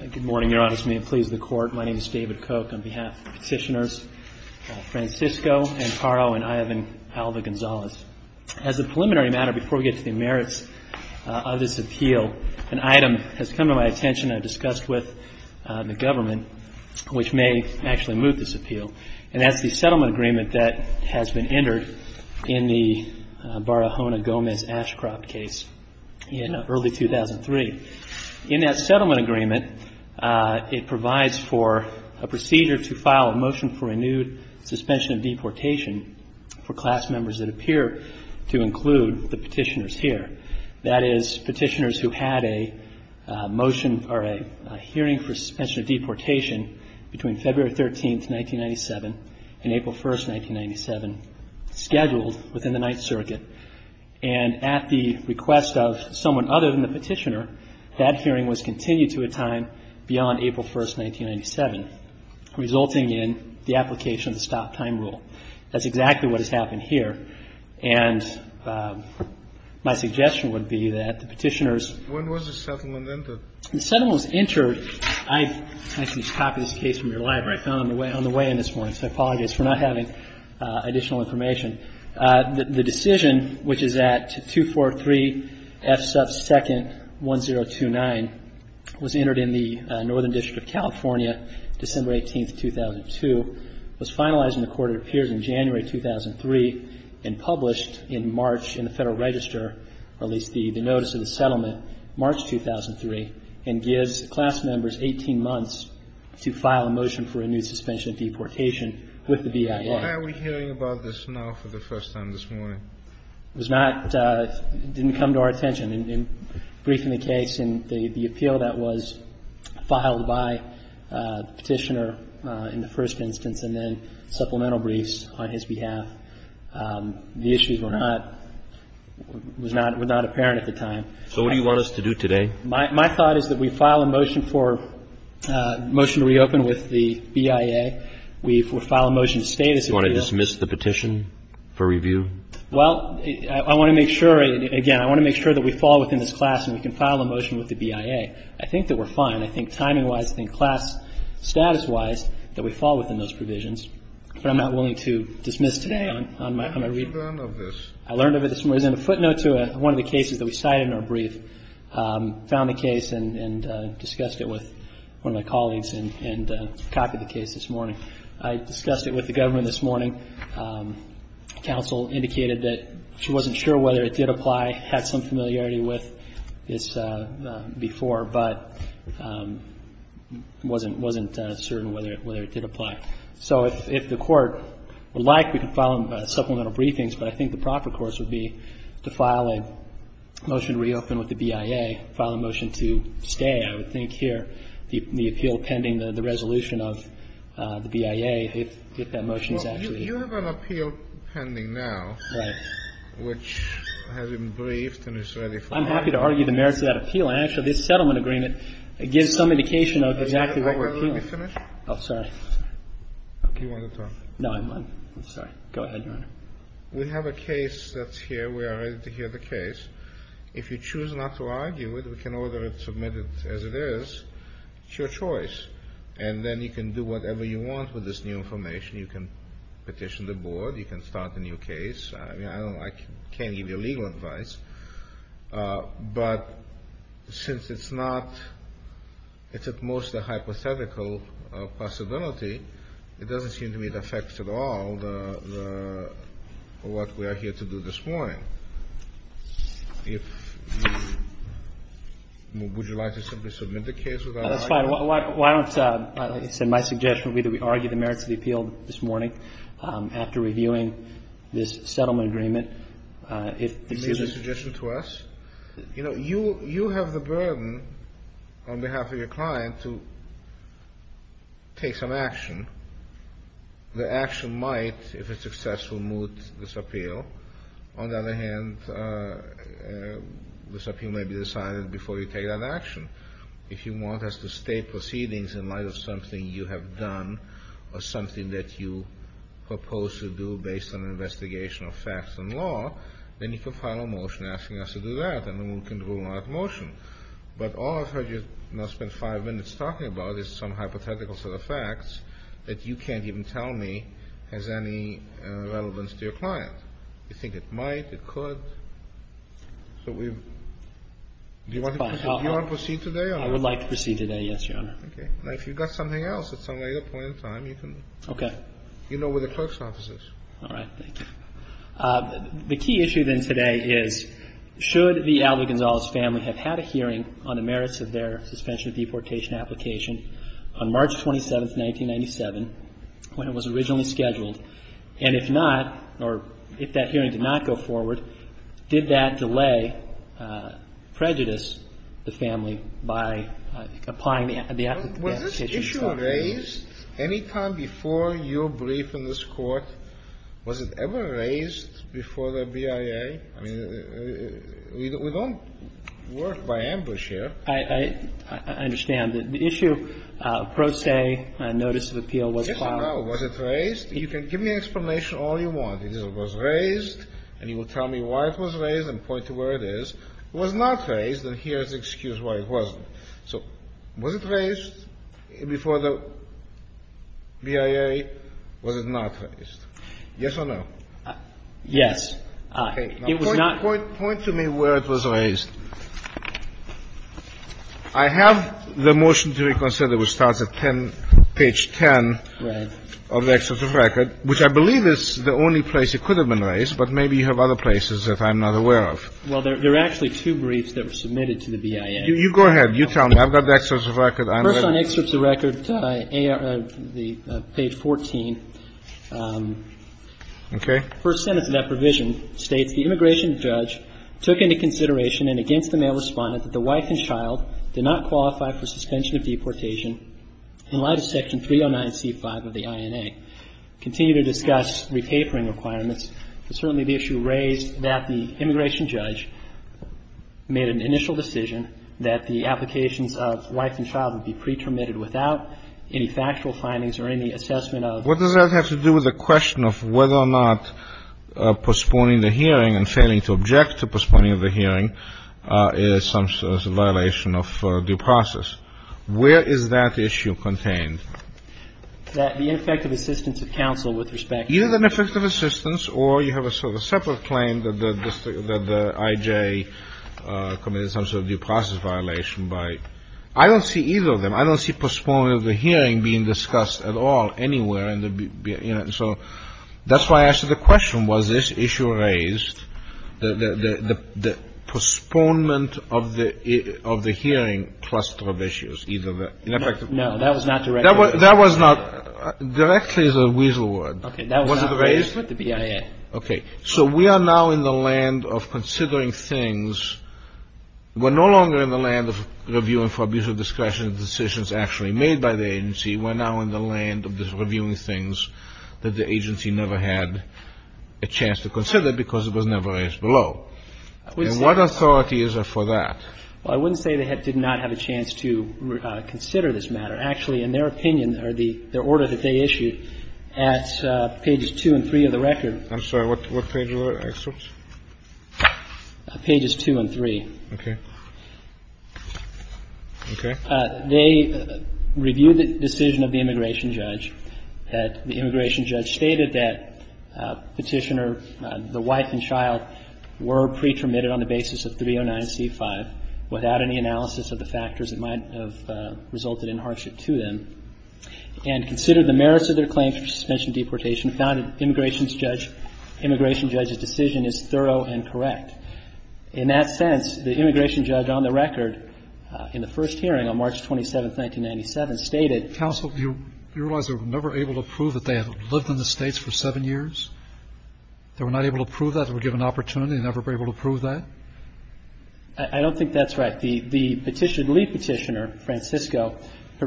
Good morning, Your Honors. May it please the Court, my name is David Koch. On behalf of the Petitioners, Francisco Ancaro and Ivan Alva Gonzalez. As a preliminary matter, before we get to the merits of this appeal, an item has come to my attention and I've discussed with the government, which may actually move this appeal. And that's the settlement agreement that has been entered in the Barahona Gomez Ashcroft case in early 2003. In that settlement agreement, it provides for a procedure to file a motion for a new suspension of deportation for class members that appear to include the Petitioners here. That is, Petitioners who had a motion or a hearing for suspension of deportation between February 13, 1997, and April 1, 1997, scheduled within the Ninth Circuit. And at the request of someone other than the Petitioner, that hearing was continued to a time beyond April 1, 1997, resulting in the application of the Stop Time Rule. That's exactly what has happened here. And my suggestion would be that the Petitioners... I apologize for not having additional information. The decision, which is at 243 F. Sub. 2nd. 1029, was entered in the Northern District of California, December 18, 2002, was finalized in the Court of Appeals in January 2003, and published in March in the Federal Register, or at least the notice of the settlement, March 2003, and gives class members 18 months to file a motion for a new suspension of deportation with the BIR. Why are we hearing about this now for the first time this morning? It was not — it didn't come to our attention. In briefing the case and the appeal that was filed by the Petitioner in the first instance and then supplemental briefs on his behalf, the issues were not — were not apparent at the time. So what do you want us to do today? My thought is that we file a motion for — motion to reopen with the BIA. We file a motion to stay this appeal. Do you want to dismiss the petition for review? Well, I want to make sure — again, I want to make sure that we fall within this class and we can file a motion with the BIA. I think that we're fine. I think timing-wise, I think class status-wise, that we fall within those provisions. But I'm not willing to dismiss today on my — on my reading. I learned of this. I learned of it this morning. As a footnote to one of the cases that we cited in our brief, found the case and discussed it with one of my colleagues and copied the case this morning. I discussed it with the government this morning. Counsel indicated that she wasn't sure whether it did apply, had some familiarity with this before, but wasn't certain whether it did apply. So if the Court would like, we can file supplemental briefings. But I think the proper course would be to file a motion to reopen with the BIA, file a motion to stay, I would think, here, the appeal pending the resolution of the BIA, if that motion is actually — Well, you have an appeal pending now. Right. Which has been briefed and is ready for hearing. I'm happy to argue the merits of that appeal. Actually, this settlement agreement gives some indication of exactly what we're appealing. Can I finish? Oh, sorry. Do you want to talk? No, I'm fine. I'm sorry. Go ahead, Your Honor. We have a case that's here. We are ready to hear the case. If you choose not to argue it, we can order it submitted as it is. It's your choice. And then you can do whatever you want with this new information. You can petition the Board. You can start a new case. I mean, I don't like — can't give you legal advice. But since it's not — it's at most a hypothetical possibility, it doesn't seem to me it affects at all the — what we are here to do this morning. If you — would you like to simply submit the case without arguing it? That's fine. Why don't — it's in my suggestion that we argue the merits of the appeal this morning after reviewing this settlement agreement. You made a suggestion to us? You know, you have the burden on behalf of your client to take some action. The action might, if it's successful, moot this appeal. On the other hand, this appeal may be decided before you take that action. If you want us to state proceedings in light of something you have done or something that you propose to do based on an investigation of facts and law, then you can file a motion asking us to do that, and then we can rule out motion. But all I've heard you now spend five minutes talking about is some hypothetical set of facts that you can't even tell me has any relevance to your client. You think it might? It could? So we — do you want to proceed today? I would like to proceed today, yes, Your Honor. Okay. Now, if you've got something else at some later point in time, you can — Okay. You know where the close office is. All right. Thank you. The key issue, then, today is, should the Aldo Gonzales family have had a hearing on the merits of their suspension of deportation application on March 27th, 1997, when it was originally scheduled, and if not, or if that hearing did not go forward, did that delay prejudice the family by applying the application? Was this issue raised any time before your brief in this Court? Was it ever raised before the BIA? I mean, we don't work by ambush here. I understand. The issue, pro se, notice of appeal was filed. Was it raised? You can give me an explanation all you want. It was raised, and you will tell me why it was raised and point to where it is. It was not raised, and here is the excuse why it wasn't. So was it raised before the BIA? Was it not raised? Yes or no? Yes. It was not — Point to me where it was raised. I have the motion to reconsider, which starts at 10, page 10 of the excerpt of record, which I believe is the only place it could have been raised, but maybe you have other places that I'm not aware of. Well, there are actually two briefs that were submitted to the BIA. You go ahead. You tell me. I've got the excerpt of record. First on excerpt of record, page 14. Okay. First sentence of that provision states, The immigration judge took into consideration and against the male respondent that the wife and child did not qualify for suspension of deportation in light of Section 309C5 of the INA. Continue to discuss re-papering requirements. Certainly the issue raised that the immigration judge made an initial decision that the applications of wife and child would be pre-permitted without any factual findings or any assessment of — What does that have to do with the question of whether or not postponing the hearing and failing to object to postponing of the hearing is some sort of violation of due process? Where is that issue contained? That the ineffective assistance of counsel with respect to — Either the ineffective assistance or you have a sort of separate claim that the I.J. committed some sort of due process violation by — I don't see either of them. I don't see postponement of the hearing being discussed at all anywhere in the BIA. So that's why I asked the question. Was this issue raised, the postponement of the hearing cluster of issues? Either the ineffective — No, that was not directly — That was not — Directly is a weasel word. Okay. That was not raised with the BIA. Okay. So we are now in the land of considering things. We're no longer in the land of reviewing for abuse of discretion decisions actually made by the agency. We're now in the land of reviewing things that the agency never had a chance to consider because it was never raised below. And what authority is there for that? Well, I wouldn't say they did not have a chance to consider this matter. The other thing I would say is that the BIA did not have a chance to consider the case of the immigration judge. The BIA did not consider actually, in their opinion, or the order that they issued at pages 2 and 3 of the record — I'm sorry. What page was that? I'm sorry. What page was that? Pages 2 and 3. Okay. Okay. They reviewed the decision of the immigration judge. The immigration judge stated that Petitioner, the wife and child, were pre-termitted on the basis of 309c5 without any analysis of the factors that might have resulted in hardship to them and considered the merits of their claims for suspension of deportation, found that the immigration judge's decision is thorough and correct. In that sense, the immigration judge on the record in the first hearing on March 27, 1997, stated — Counsel, do you realize they were never able to prove that they had lived in the States for seven years? They were not able to prove that? They were given an opportunity and never were able to prove that? I don't think that's right. The Petitioner, the lead Petitioner, Francisco,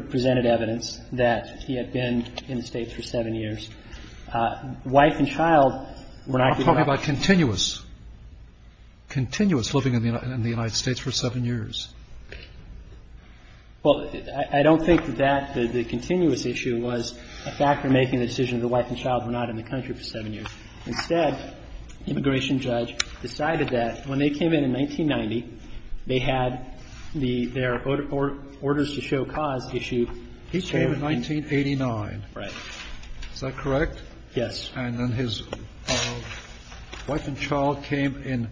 presented evidence that he had been in the States for seven years. Wife and child were not — You're talking about continuous, continuous living in the United States for seven years. Well, I don't think that that, the continuous issue was a factor in making the decision that the wife and child were not in the country for seven years. Instead, the immigration judge decided that when they came in in 1990, they had their orders to show cause issue. He came in 1989. Right. Is that correct? Yes. And then his wife and child came in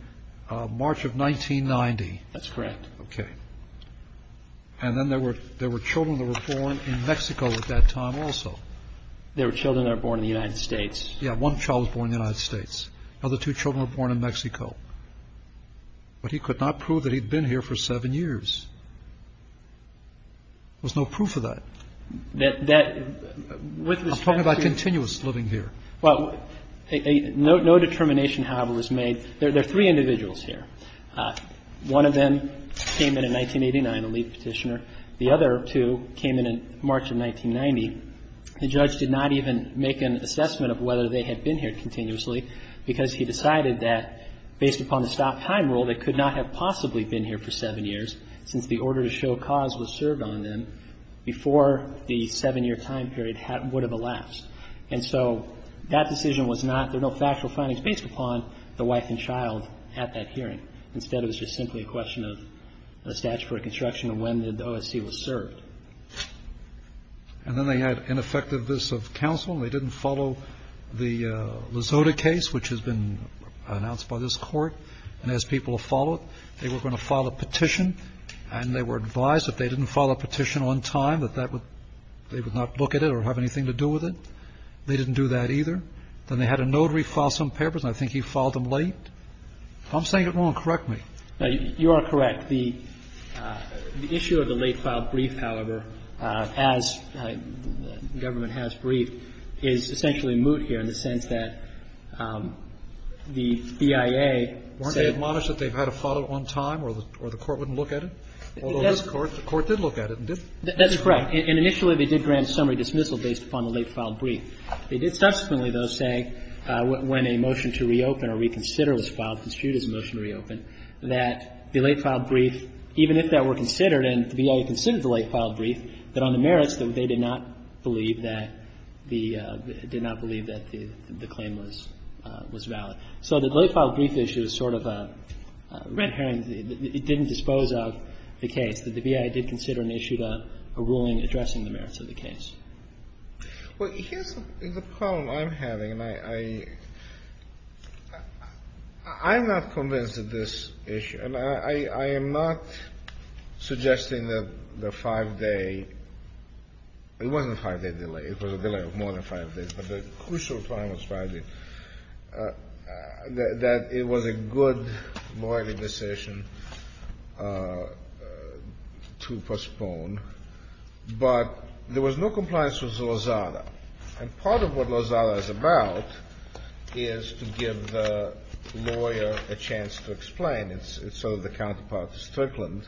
March of 1990. That's correct. Okay. And then there were children that were born in Mexico at that time also. There were children that were born in the United States. Yeah, one child was born in the United States. The other two children were born in Mexico. But he could not prove that he'd been here for seven years. There was no proof of that. That — I'm talking about continuous living here. Well, no determination, however, was made. There are three individuals here. One of them came in in 1989, a lead Petitioner. The other two came in in March of 1990. The judge did not even make an assessment of whether they had been here continuously because he decided that, based upon the stop-time rule, they could not have possibly been here for seven years since the order to show cause was served on them before the seven-year time period would have elapsed. And so that decision was not — there were no factual findings based upon the wife and child at that hearing. Instead, it was just simply a question of a statute for reconstruction of when the OSC was served. And then they had ineffectiveness of counsel. They didn't follow the Lizoda case, which has been announced by this Court, and asked people to follow it. They were going to file a petition, and they were advised if they didn't file a petition on time that that would — they would not look at it or have anything to do with it. They didn't do that either. Then they had a notary file some papers, and I think he filed them late. If I'm saying it wrong, correct me. You are correct. The issue of the late-filed brief, however, as the government has briefed, is essentially moot here in the sense that the BIA said — Weren't they admonished that they had to file it on time or the Court wouldn't look at it? Although this Court, the Court did look at it. That's correct. And initially they did grant summary dismissal based upon the late-filed brief. They did subsequently, though, say when a motion to reopen or reconsider was filed, construed as a motion to reopen, that the late-filed brief, even if that were considered and the BIA considered the late-filed brief, that on the merits, they did not believe that the — did not believe that the claim was valid. So the late-filed brief issue is sort of a red herring. It didn't dispose of the case. The BIA did consider and issued a ruling addressing the merits of the case. Well, here's the problem I'm having, and I'm not convinced of this issue. And I am not suggesting that the 5-day — it wasn't a 5-day delay. It was a delay of more than 5 days. But the crucial time was 5 days, that it was a good lawyerly decision to postpone. But there was no compliance with Lozada. And part of what Lozada is about is to give the lawyer a chance to explain. It's sort of the counterpart to Strickland,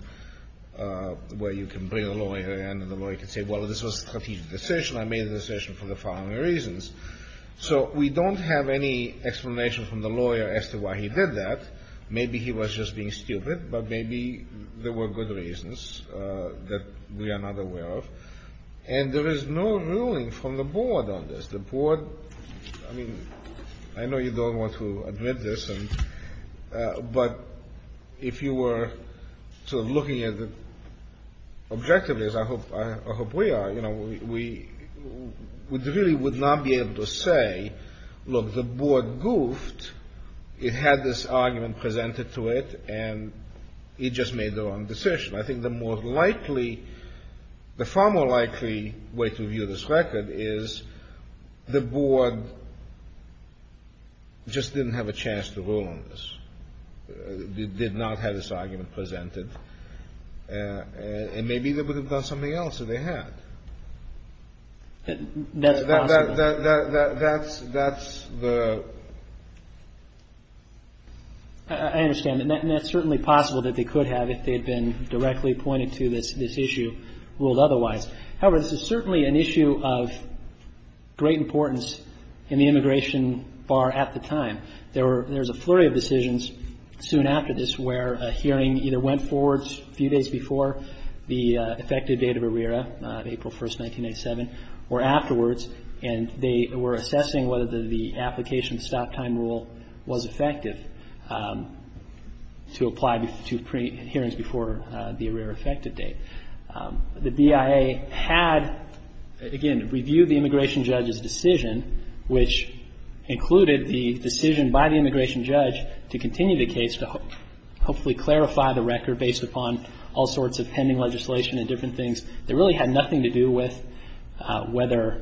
where you can bring a lawyer in and the lawyer can say, well, this was a strategic decision. I made the decision for the following reasons. So we don't have any explanation from the lawyer as to why he did that. Maybe he was just being stupid, but maybe there were good reasons that we are not aware of. And there is no ruling from the board on this. The board — I mean, I know you don't want to admit this, but if you were sort of looking at it objectively, as I hope we are, you know, we really would not be able to say, look, the board goofed. It had this argument presented to it, and it just made the wrong decision. I think the more likely — the far more likely way to view this record is the board just didn't have a chance to rule on this. They did not have this argument presented. And maybe they would have done something else if they had. That's possible. That's the — I understand. And that's certainly possible that they could have if they had been directly pointed to this issue ruled otherwise. However, this is certainly an issue of great importance in the immigration bar at the time. There was a flurry of decisions soon after this where a hearing either went forward a few days before the effective date of ARERA, April 1, 1987, or afterwards, and they were assessing whether the application stop time rule was effective to apply to hearings before the ARERA effective date. The BIA had, again, reviewed the immigration judge's decision, which included the decision by the immigration judge to continue the case to hopefully clarify the record based upon all sorts of pending legislation and different things that really had nothing to do with whether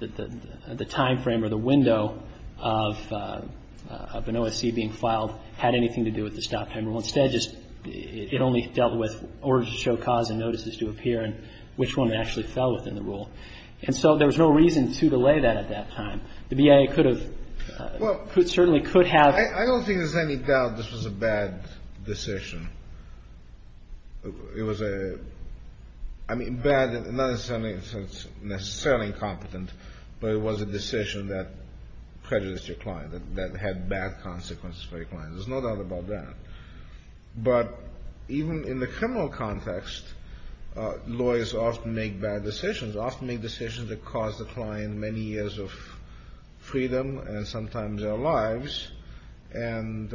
the timeframe or the window of an OSC being filed had anything to do with the stop time rule. Instead, just it only dealt with orders to show cause and notices to appear and which one actually fell within the rule. And so there was no reason to delay that at that time. The BIA could have, certainly could have. I don't think there's any doubt this was a bad decision. It was a, I mean, bad, not necessarily incompetent, but it was a decision that prejudiced your client, that had bad consequences for your client. There's no doubt about that. But even in the criminal context, lawyers often make bad decisions, often make decisions that cause the client many years of freedom and sometimes their lives. And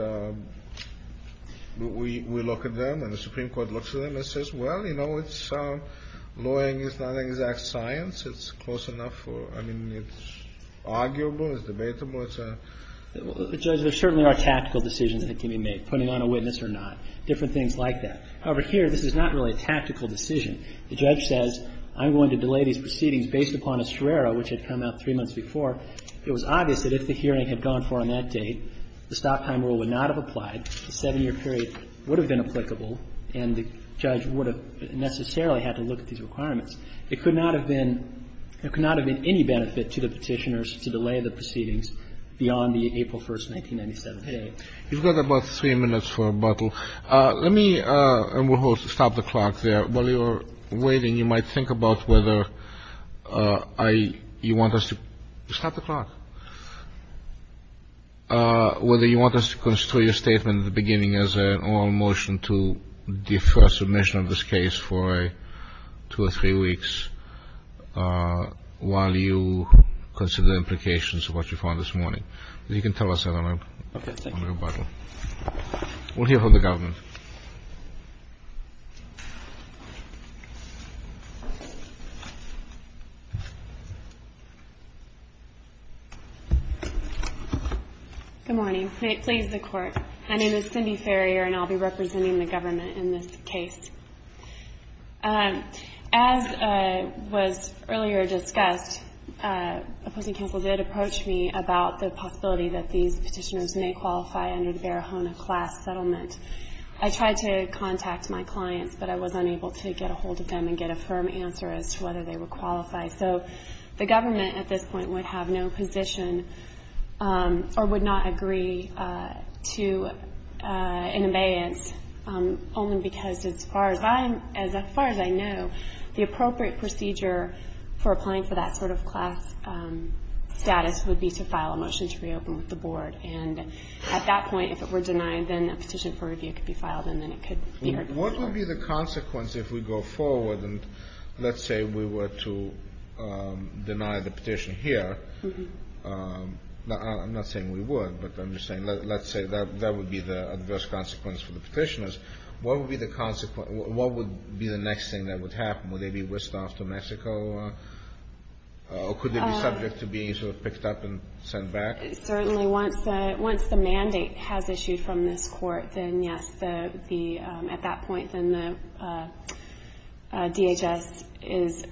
we look at them and the Supreme Court looks at them and says, well, you know, it's, lawyering is not an exact science. It's close enough for, I mean, it's arguable, it's debatable. It's a ‑‑ Well, Judge, there certainly are tactical decisions that can be made, putting on a witness or not, different things like that. However, here, this is not really a tactical decision. The judge says, I'm going to delay these proceedings based upon a serrera, which had come out three months before. It was obvious that if the hearing had gone for on that date, the stop time rule would not have applied, the 7‑year period would have been applicable, and the judge would have necessarily had to look at these requirements. It could not have been, there could not have been any benefit to the Petitioners to delay the proceedings beyond the April 1st, 1997 date. You've got about three minutes for a bottle. Let me, and we'll stop the clock there. While you're waiting, you might think about whether you want us to, stop the clock, whether you want us to construe your statement at the beginning as an oral motion to defer submission of this case for two or three weeks, while you consider the implications of what you found this morning. You can tell us that on your bottle. Okay, thank you. We'll hear from the government. Good morning. Please, the Court. My name is Cindy Farrier, and I'll be representing the government in this case. As was earlier discussed, opposing counsel did approach me about the possibility that these Petitioners may qualify under the Barahona class settlement. I tried to contact my clients, but I was unable to get a hold of them and get a firm answer as to whether they were qualified. So the government at this point would have no position or would not agree to an abeyance, only because as far as I know, the appropriate procedure for applying for that sort of class status would be to file a motion to reopen with the Board. And at that point, if it were denied, then a petition for review could be filed, and then it could be heard. What would be the consequence if we go forward and let's say we were to deny the petition here? I'm not saying we would, but I'm just saying let's say that would be the adverse consequence for the Petitioners. What would be the consequence? What would be the next thing that would happen? Would they be whisked off to Mexico, or could they be subject to being sort of picked up and sent back? Certainly, once the mandate has issued from this Court, then yes, at that point, then the DHS is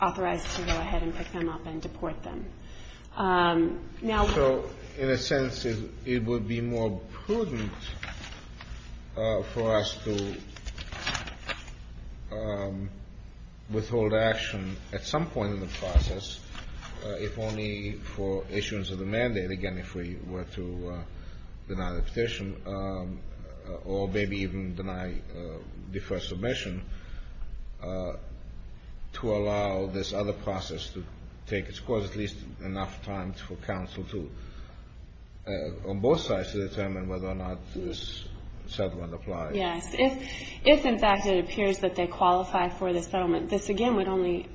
authorized to go ahead and pick them up and deport them. So in a sense, it would be more prudent for us to withhold action at some point in the process, again, if we were to deny the petition, or maybe even deny deferred submission, to allow this other process to take its course, at least enough time for counsel to, on both sides, to determine whether or not this settlement applies. Yes. If, in fact, it appears that they qualify for this settlement, this again would only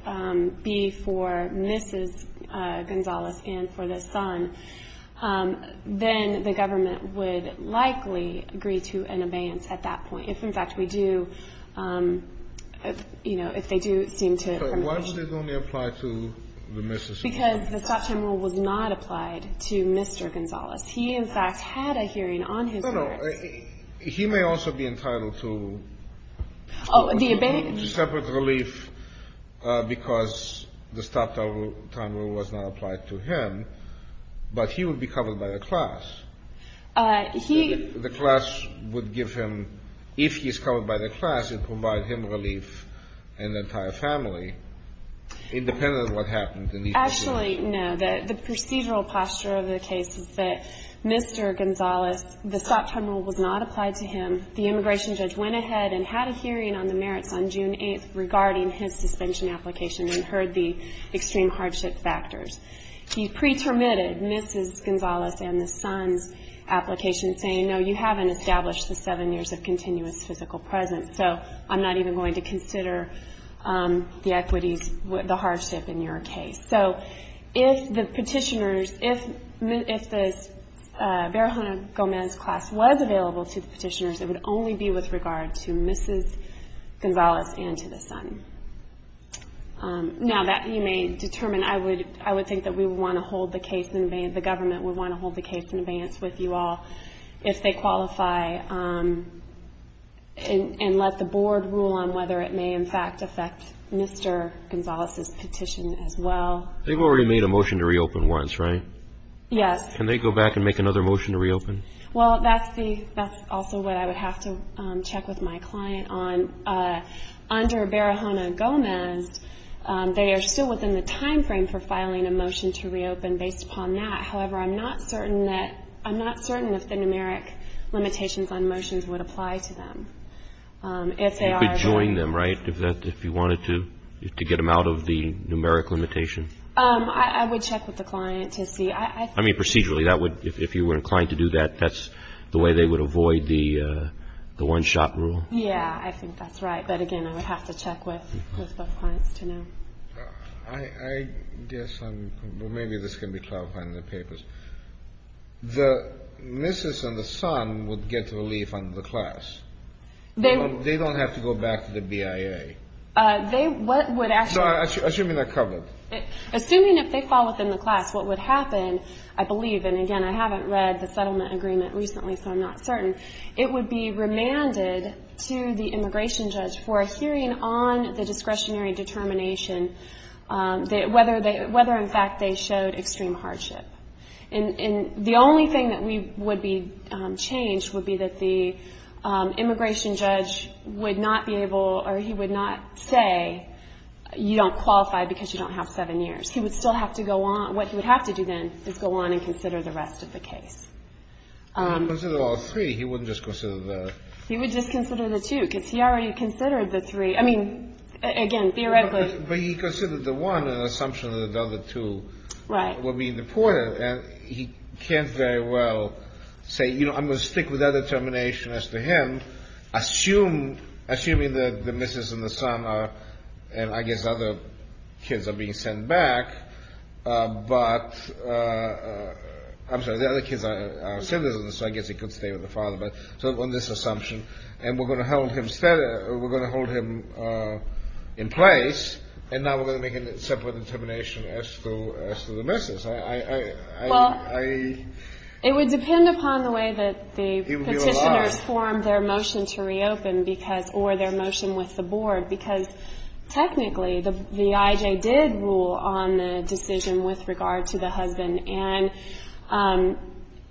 be for Mrs. Gonzales and for the son, then the government would likely agree to an abeyance at that point. If, in fact, we do, you know, if they do seem to permit it. But why does it only apply to the Mrs. Gonzales? Because the stop-time rule was not applied to Mr. Gonzales. He, in fact, had a hearing on his part. Well, he may also be entitled to separate relief because the stop-time rule was not applied to him, but he would be covered by the class. The class would give him, if he's covered by the class, it would provide him relief and the entire family, independent of what happened. Actually, no. The procedural posture of the case is that Mr. Gonzales, the stop-time rule was not applied to him. The immigration judge went ahead and had a hearing on the merits on June 8th regarding his suspension application and heard the extreme hardship factors. He pretermitted Mrs. Gonzales and the son's application, saying, no, you haven't established the seven years of continuous physical presence, so I'm not even going to consider the equities, the hardship in your case. So, if the petitioners, if the Barahona-Gomez class was available to the petitioners, it would only be with regard to Mrs. Gonzales and to the son. Now, that you may determine, I would think that we would want to hold the case in advance, the government would want to hold the case in advance with you all if they qualify and let the board rule on whether it may, in fact, affect Mr. Gonzales' petition as well. They've already made a motion to reopen once, right? Yes. Can they go back and make another motion to reopen? Well, that's also what I would have to check with my client on. Under Barahona-Gomez, they are still within the time frame for filing a motion to reopen based upon that. However, I'm not certain that, I'm not certain if the numeric limitations on motions would apply to them. You could join them, right, if you wanted to, to get them out of the numeric limitation? I would check with the client to see. I mean, procedurally, that would, if you were inclined to do that, that's the way they would avoid the one-shot rule? Yeah, I think that's right. But, again, I would have to check with both clients to know. I guess I'm, well, maybe this can be clarified in the papers. The missus and the son would get relief under the class. They don't have to go back to the BIA. They would actually. Assuming they're covered. Assuming if they fall within the class, what would happen, I believe, and, again, I haven't read the settlement agreement recently, so I'm not certain, it would be remanded to the immigration judge for a hearing on the discretionary determination, whether, in fact, they showed extreme hardship. And the only thing that would be changed would be that the immigration judge would not be able, or he would not say, you don't qualify because you don't have seven years. He would still have to go on. What he would have to do then is go on and consider the rest of the case. If he considered all three, he wouldn't just consider the. He would just consider the two, because he already considered the three. I mean, again, theoretically. But he considered the one, an assumption that the other two were being deported, and he can't very well say, you know, I'm going to stick with that determination as to him. Assuming the missus and the son are, and I guess other kids are being sent back, but, I'm sorry, the other kids are citizens, so I guess he could stay with the father. So on this assumption, and we're going to hold him in place, and now we're going to make a separate determination as to the missus. Well, it would depend upon the way that the petitioners formed their motion to reopen, or their motion with the board, because technically the IJ did rule on the decision with regard to the husband.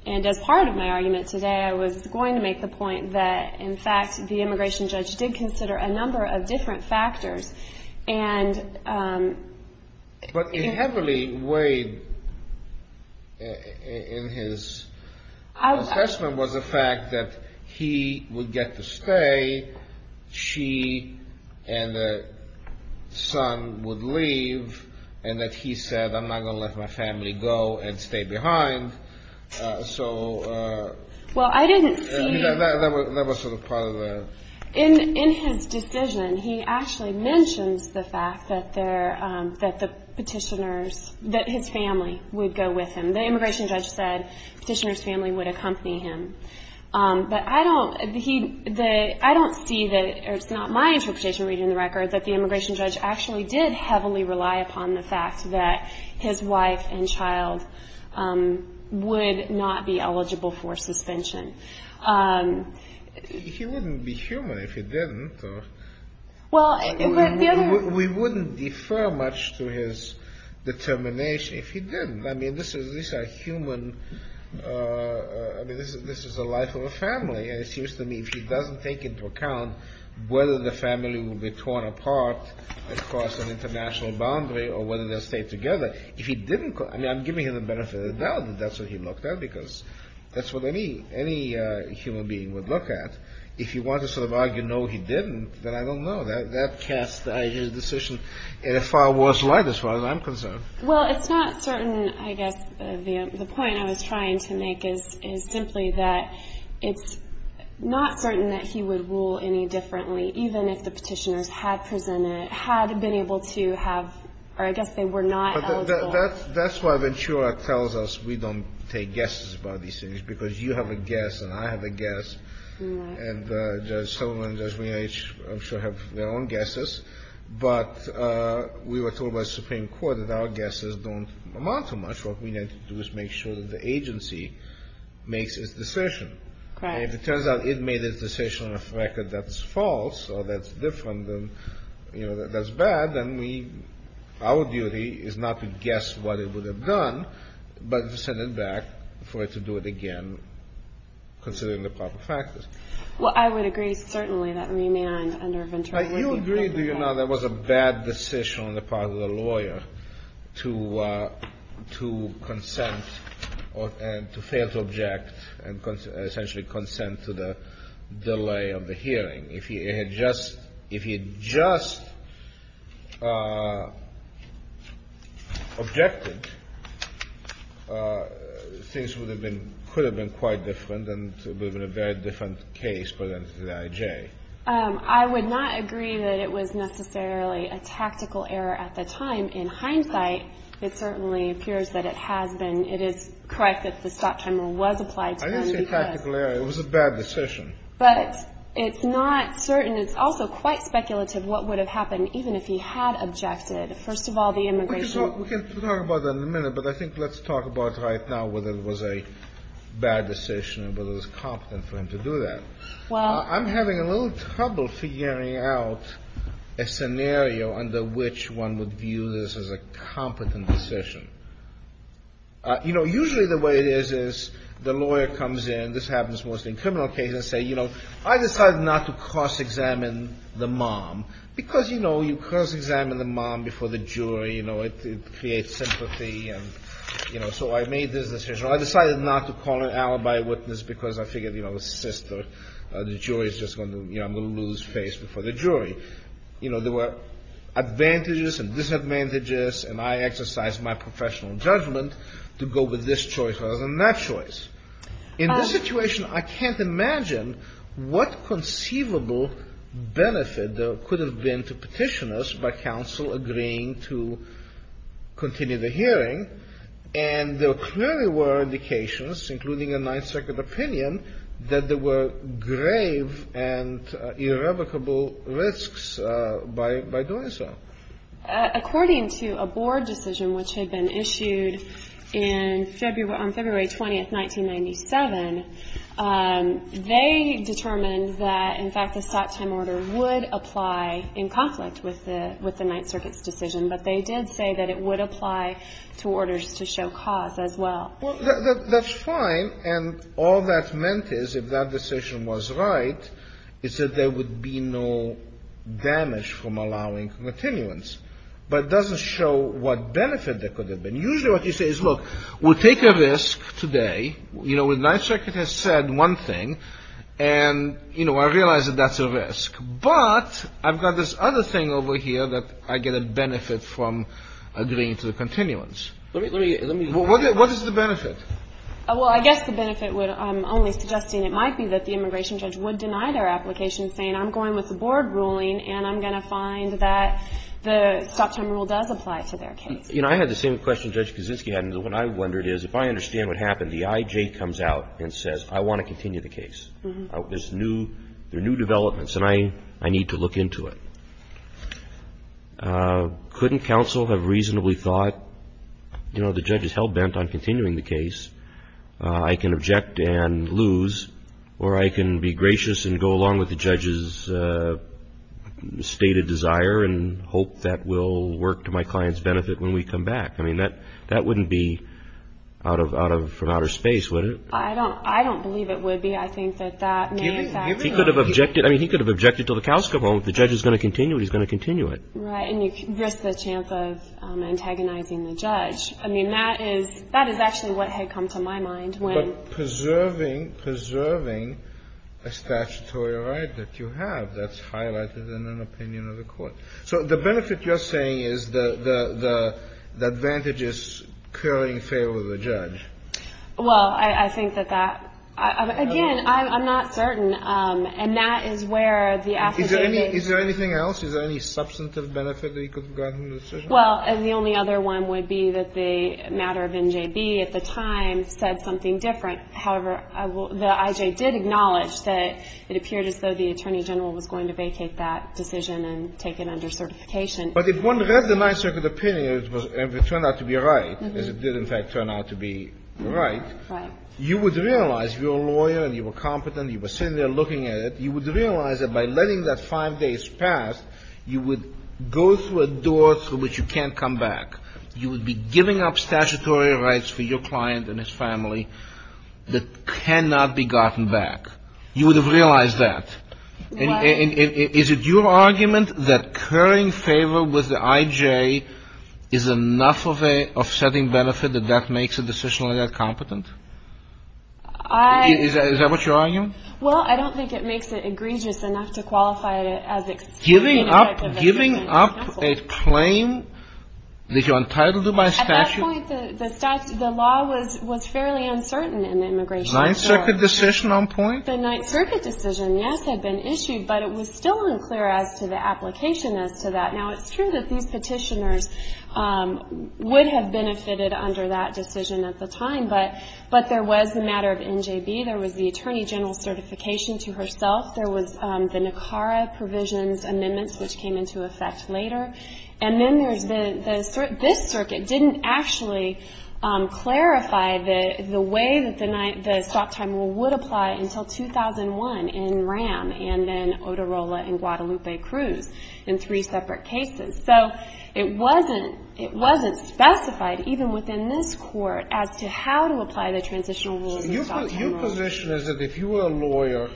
And as part of my argument today, I was going to make the point that, in fact, the immigration judge did consider a number of different factors. But it heavily weighed in his assessment was the fact that he would get to stay, she and the son would leave, and that he said, I'm not going to let my family go, and stayed behind. So... Well, I didn't see... That was sort of part of the... In his decision, he actually mentions the fact that the petitioners, that his family would go with him. The immigration judge said the petitioner's family would accompany him. But I don't see, or it's not my interpretation reading the record, that the immigration judge actually did heavily rely upon the fact that his wife and child would not be eligible for suspension. He wouldn't be human if he didn't. Well, the other... We wouldn't defer much to his determination if he didn't. I mean, this is a human, I mean, this is the life of a family. And it seems to me if he doesn't take into account whether the family will be torn apart, across an international boundary, or whether they'll stay together, if he didn't... I mean, I'm giving him the benefit of the doubt that that's what he looked at, because that's what any human being would look at. If you want to sort of argue, no, he didn't, then I don't know. That casts his decision in a far worse light, as far as I'm concerned. Well, it's not certain, I guess, the point I was trying to make is simply that it's not certain that he would rule any differently, even if the petitioners had presented, had been able to have, or I guess they were not eligible. That's why Ventura tells us we don't take guesses about these things, because you have a guess and I have a guess. And Judge Sullivan and Judge Meenah, I'm sure, have their own guesses. But we were told by the Supreme Court that our guesses don't amount to much. What we need to do is make sure that the agency makes its decision. Right. And if it turns out it made its decision on a record that's false or that's different, you know, that's bad, then we, our duty is not to guess what it would have done, but to send it back for it to do it again, considering the proper factors. Well, I would agree, certainly, that Meenah and under Ventura would be held to account. Now, you agree, do you not, that it was a bad decision on the part of the lawyer to delay of the hearing? If he had just, if he had just objected, things would have been, could have been quite different, and it would have been a very different case presented to the I.J. I would not agree that it was necessarily a tactical error at the time. In hindsight, it certainly appears that it has been. It is correct that the stop timer was applied to them. I didn't say tactical error. It was a bad decision. But it's not certain. It's also quite speculative what would have happened even if he had objected. First of all, the immigration. We can talk about that in a minute, but I think let's talk about right now whether it was a bad decision, whether it was competent for him to do that. Well. I'm having a little trouble figuring out a scenario under which one would view this as a competent decision. You know, usually the way it is is the lawyer comes in, this happens mostly in criminal cases, and say, you know, I decided not to cross-examine the mom because, you know, you cross-examine the mom before the jury. You know, it creates sympathy. And, you know, so I made this decision. I decided not to call an alibi witness because I figured, you know, the sister, the jury is just going to, you know, I'm going to lose face before the jury. You know, there were advantages and disadvantages, and I exercised my professional judgment to go with this choice rather than that choice. In this situation, I can't imagine what conceivable benefit there could have been to petitioners by counsel agreeing to continue the hearing. And there clearly were indications, including a Ninth Circuit opinion, that there were grave and irrevocable risks by doing so. According to a board decision which had been issued in February, on February 20th, 1997, they determined that, in fact, the stop time order would apply in conflict with the Ninth Circuit's decision, but they did say that it would apply to orders to show cause as well. Well, that's fine. And all that meant is, if that decision was right, it said there would be no damage from allowing continuance. But it doesn't show what benefit there could have been. Usually what you say is, look, we'll take a risk today. You know, Ninth Circuit has said one thing, and, you know, I realize that that's a risk. But I've got this other thing over here that I get a benefit from agreeing to the continuance. What is the benefit? Well, I guess the benefit, I'm only suggesting it might be that the immigration judge would deny their application saying, I'm going with the board ruling, and I'm going to find that the stop time rule does apply to their case. You know, I had the same question Judge Kaczynski had. And what I wondered is, if I understand what happened, the I.J. comes out and says, I want to continue the case. There's new developments. And I need to look into it. Couldn't counsel have reasonably thought, you know, the judge is hell-bent on continuing the case. I can object and lose, or I can be gracious and go along with the judge's stated desire and hope that will work to my client's benefit when we come back. I mean, that wouldn't be from outer space, would it? I don't believe it would be. I think that that may have been. He could have objected. I mean, he could have objected until the cows come home. If the judge is going to continue, he's going to continue it. Right. And you risk the chance of antagonizing the judge. I mean, that is actually what had come to my mind when. But preserving, preserving a statutory right that you have, that's highlighted in an opinion of the court. Well, I think that that, again, I'm not certain. And that is where the affidavit. Is there anything else? Is there any substantive benefit that he could have gotten from the decision? Well, the only other one would be that the matter of NJB at the time said something different. However, the IJ did acknowledge that it appeared as though the attorney general was going to vacate that decision and take it under certification. But if one read the Ninth Circuit opinion and it turned out to be right, as it did in fact turn out to be right. Right. You would realize you're a lawyer and you were competent. You were sitting there looking at it. You would realize that by letting that five days pass, you would go through a door through which you can't come back. You would be giving up statutory rights for your client and his family that cannot be gotten back. You would have realized that. Right. And is it your argument that currying favor with the IJ is enough of a setting benefit that that makes a decisionally incompetent? Is that what you're arguing? Well, I don't think it makes it egregious enough to qualify it as giving up a claim that you're entitled to by statute. At that point, the law was fairly uncertain in immigration. Ninth Circuit decision on point? The Ninth Circuit decision, yes, had been issued, but it was still unclear as to the application as to that. Now, it's true that these petitioners would have benefited under that decision at the time, but there was the matter of NJB. There was the Attorney General's certification to herself. There was the NACARA provisions amendments, which came into effect later. And then there's the Circuit. This Circuit didn't actually clarify the way that the stop time rule would apply until 2001 in RAM and then Oterola and Guadalupe Cruz in three separate cases. So it wasn't specified, even within this Court, as to how to apply the transitional rules and stop time rules. Your position is that if you were a lawyer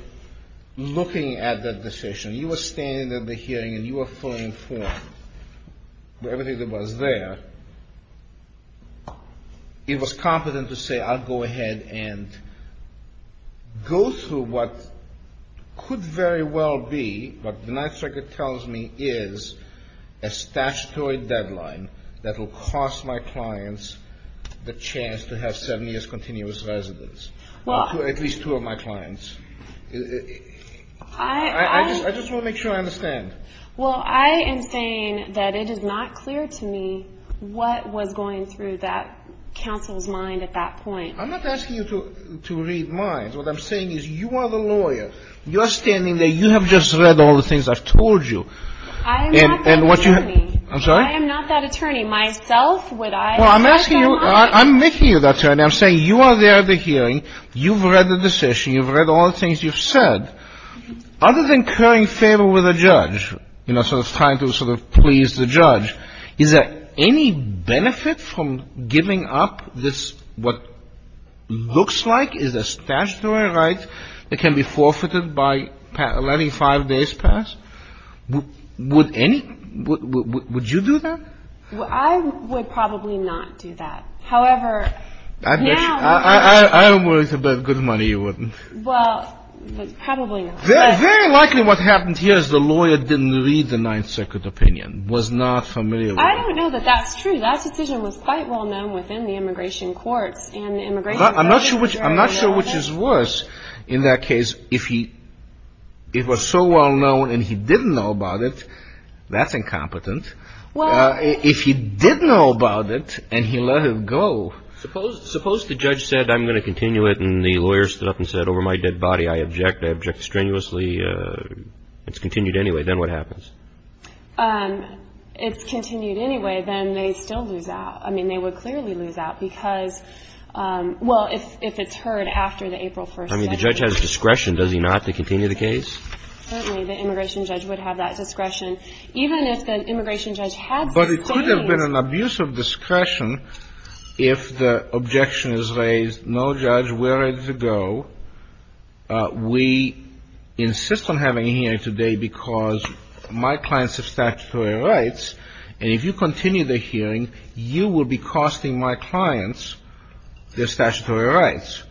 looking at that decision, you were standing at the hearing and you were fully informed of everything that was there, it was competent to say, I'll go ahead and go through what could very well be, what the Ninth Circuit tells me is, a statutory deadline that will cost my clients the chance to have seven years continuous residence. At least two of my clients. I just want to make sure I understand. Well, I am saying that it is not clear to me what was going through that counsel's mind at that point. I'm not asking you to read minds. What I'm saying is you are the lawyer. You're standing there. You have just read all the things I've told you. I am not that attorney. I'm sorry? I am not that attorney. Myself, would I? Well, I'm asking you. I'm making you the attorney. I'm saying you are there at the hearing. You've read the decision. You've read all the things you've said. Other than incurring favor with a judge, you know, sort of trying to sort of please the judge, is there any benefit from giving up this, what looks like is a statutory right that can be forfeited by letting five days pass? Would any? Would you do that? I would probably not do that. However, now. I'm worried about good money. You wouldn't. Well, probably not. Very likely what happened here is the lawyer didn't read the Ninth Circuit opinion, was not familiar with it. I don't know that that's true. That decision was quite well known within the immigration courts. I'm not sure which is worse. In that case, if it was so well known and he didn't know about it, that's incompetent. If he did know about it and he let it go. Suppose the judge said, I'm going to continue it, and the lawyer stood up and said, over my dead body, I object. I object strenuously. It's continued anyway. Then what happens? It's continued anyway. Then they still lose out. I mean, they would clearly lose out because, well, if it's heard after the April 1st hearing. I mean, the judge has discretion, does he not, to continue the case? Certainly, the immigration judge would have that discretion. Even if the immigration judge had sustained. But it could have been an abuse of discretion if the objection is raised, no, judge, we're ready to go. We insist on having a hearing today because my clients have statutory rights. And if you continue the hearing, you will be costing my clients their statutory rights.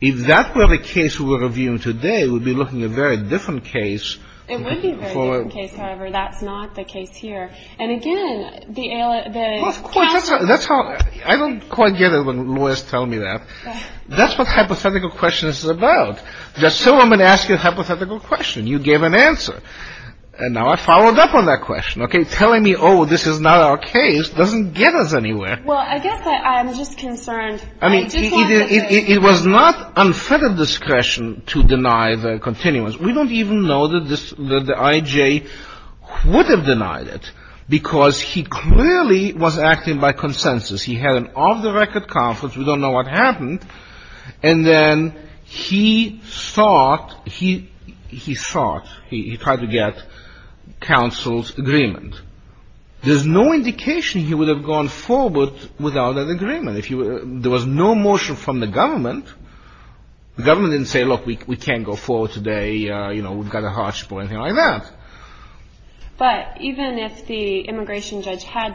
If that were the case we're reviewing today, we'd be looking at a very different case. It would be a very different case. However, that's not the case here. And, again, the ALA. I don't quite get it when lawyers tell me that. That's what hypothetical questions is about. Just so I'm going to ask you a hypothetical question. You gave an answer. And now I followed up on that question. Okay. Telling me, oh, this is not our case doesn't get us anywhere. Well, I guess I'm just concerned. I mean, it was not unfettered discretion to deny the continuance. We don't even know that the I.J. would have denied it because he clearly was acting by consensus. He had an off-the-record conference. We don't know what happened. And then he sought, he sought, he tried to get counsel's agreement. There's no indication he would have gone forward without an agreement. There was no motion from the government. The government didn't say, look, we can't go forward today. You know, we've got a harsh point. Nothing like that. But even if the immigration judge had,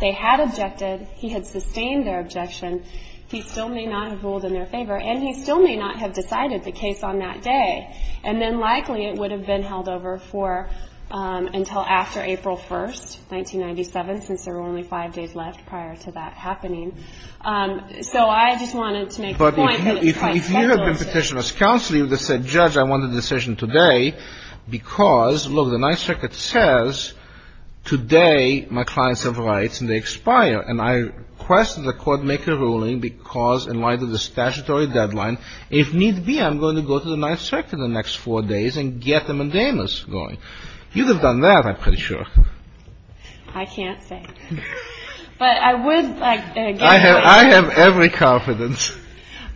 they had objected, he had sustained their objection, he still may not have ruled in their favor, and he still may not have decided the case on that day. And then likely it would have been held over for until after April 1st, 1997, since there were only five days left prior to that happening. So I just wanted to make the point that it's quite speculative. But if you had been petitioned as counsel, you would have said, judge, I want a decision today because, look, the Ninth Circuit says today my clients have rights and they expire. And I request that the Court make a ruling because in light of the statutory deadline, if need be, I'm going to go to the Ninth Circuit in the next four days and get them and Dana's going. You could have done that, I'm pretty sure. I can't say. But I would like to point out. I have every confidence.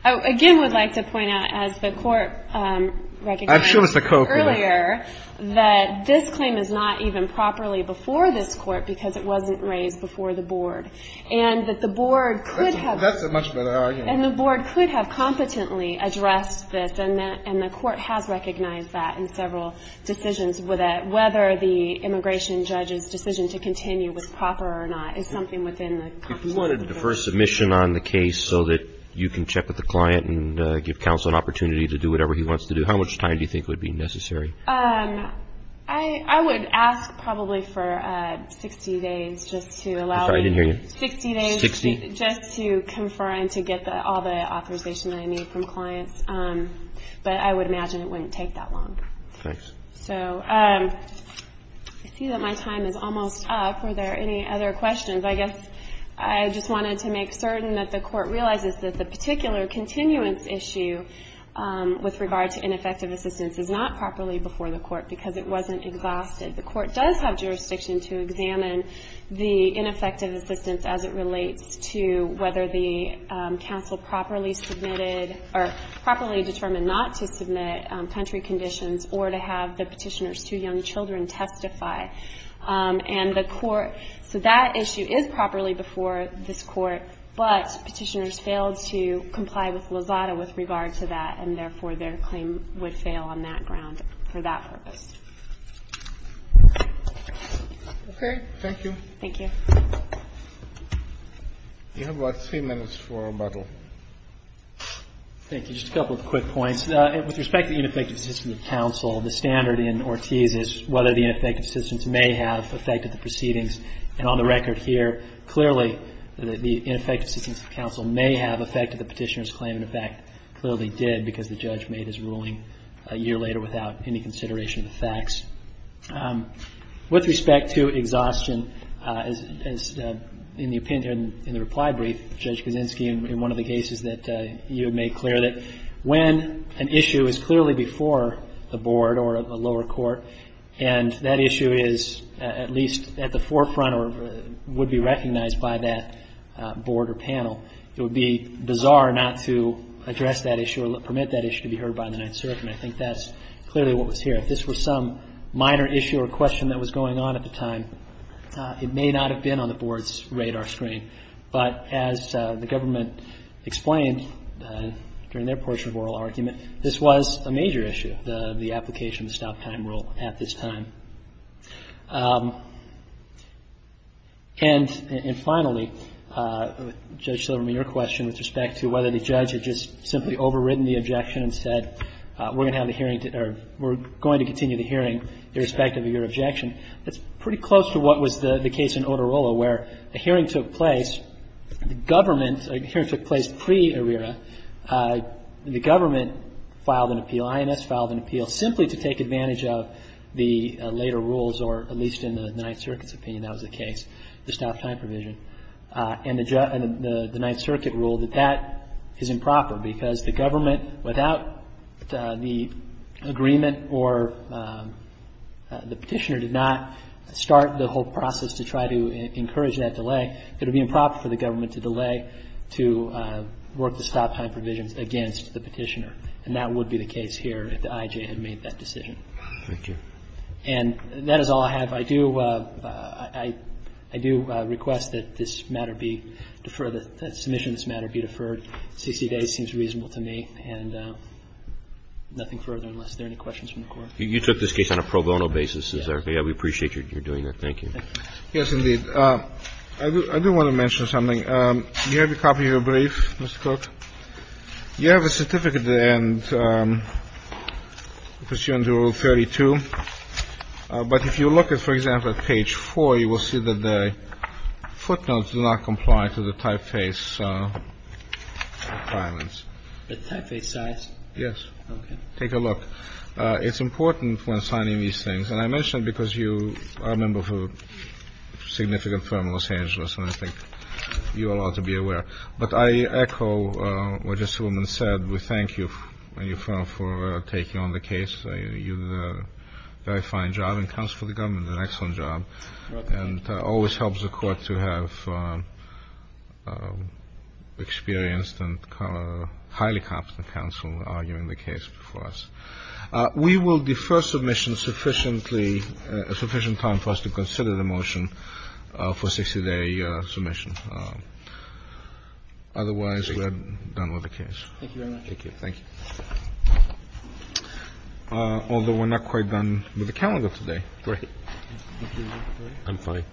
I again would like to point out, as the Court recognized earlier, that this claim is not even properly before this Court because it wasn't raised before the Board. And that the Board could have. That's a much better argument. And the Board could have competently addressed this, and the Court has recognized that in several decisions whether the immigration judge's decision to continue was proper or not is something within the competence of the Court. If you wanted to defer submission on the case so that you can check with the client and give counsel an opportunity to do whatever he wants to do, how much time do you think would be necessary? I would ask probably for 60 days just to allow me. I'm sorry, I didn't hear you. 60 days just to confer and to get all the authorization that I need from clients. But I would imagine it wouldn't take that long. Thanks. So I see that my time is almost up. Are there any other questions? I guess I just wanted to make certain that the Court realizes that the particular continuance issue with regard to ineffective assistance is not properly before the Court because it wasn't exhausted. The Court does have jurisdiction to examine the ineffective assistance as it relates to whether the counsel properly submitted or properly determined not to submit country conditions or to have the petitioner's two young children testify. And the Court, so that issue is properly before this Court, but petitioners failed to comply with Lozada with regard to that, and therefore their claim would fail on that ground for that purpose. Okay. Thank you. Thank you. You have about three minutes for rebuttal. Thank you. Just a couple of quick points. With respect to ineffective assistance of counsel, the standard in Ortiz is whether the ineffective assistance may have affected the proceedings. And on the record here, clearly the ineffective assistance of counsel may have affected the petitioner's claim. In fact, it clearly did because the judge made his ruling a year later without any consideration of the facts. With respect to exhaustion, as in the opinion in the reply brief, Judge Kaczynski, in one of the cases that you made clear that when an issue is clearly before the Board or a lower court and that issue is at least at the forefront or would be recognized by that Board or panel, it would be bizarre not to address that issue or permit that issue to be heard by the Ninth Circuit. And I think that's clearly what was here. If this was some minor issue or question that was going on at the time, it may not have been on the Board's radar screen. But as the government explained during their portion of oral argument, this was a major issue, the application of the stop-time rule at this time. And finally, Judge Silverman, your question with respect to whether the judge had just simply overridden the objection and said we're going to have the hearing or we're going to continue the hearing irrespective of your objection, that's pretty close to what was the case in Otorola, where a hearing took place, the government, a hearing took place pre-ARRERA, the government filed an appeal, INS filed an appeal simply to take advantage of the later rules or at least in the Ninth Circuit's opinion that was the case, the stop-time provision. And the Ninth Circuit ruled that that is improper because the government, without the agreement or the petitioner did not start the whole process to try to encourage that delay, that it would be improper for the government to delay to work the stop-time provisions against the petitioner. And that would be the case here if the I.J. had made that decision. And that is all I have. I do request that this matter be deferred, that the submission of this matter be deferred. 60 days seems reasonable to me. And nothing further unless there are any questions from the Court. Roberts. You took this case on a pro bono basis. We appreciate your doing that. Thank you. Yes, indeed. I do want to mention something. Do you have a copy of your brief, Mr. Cook? You have a certificate that pursuant to Rule 32. But if you look at, for example, at page 4, you will see that the footnotes do not comply to the typeface requirements. The typeface size? Yes. Okay. Take a look. It's important when signing these things, and I mention it because you are a member of a significant firm in Los Angeles, and I think you are allowed to be aware. But I echo what Mr. Silverman said. We thank you and your firm for taking on the case. You did a very fine job in counsel for the government, an excellent job, and always helps the Court to have experienced and highly competent counsel arguing the case before us. We will defer submission sufficiently, sufficient time for us to consider the motion for 60-day submission. Otherwise, we're done with the case. Thank you very much. Thank you. Thank you. Although we're not quite done with the calendar today. Right. I'm fine.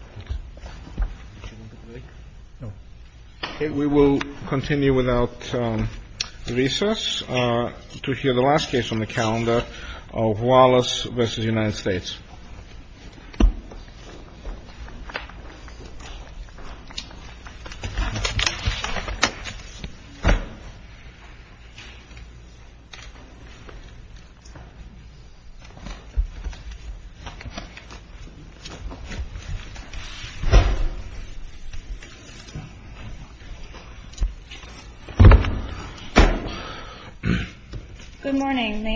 Okay. We will continue without recess to hear the last case on the calendar of Wallace v. United States. Thank you very much. Thank you. Thank you.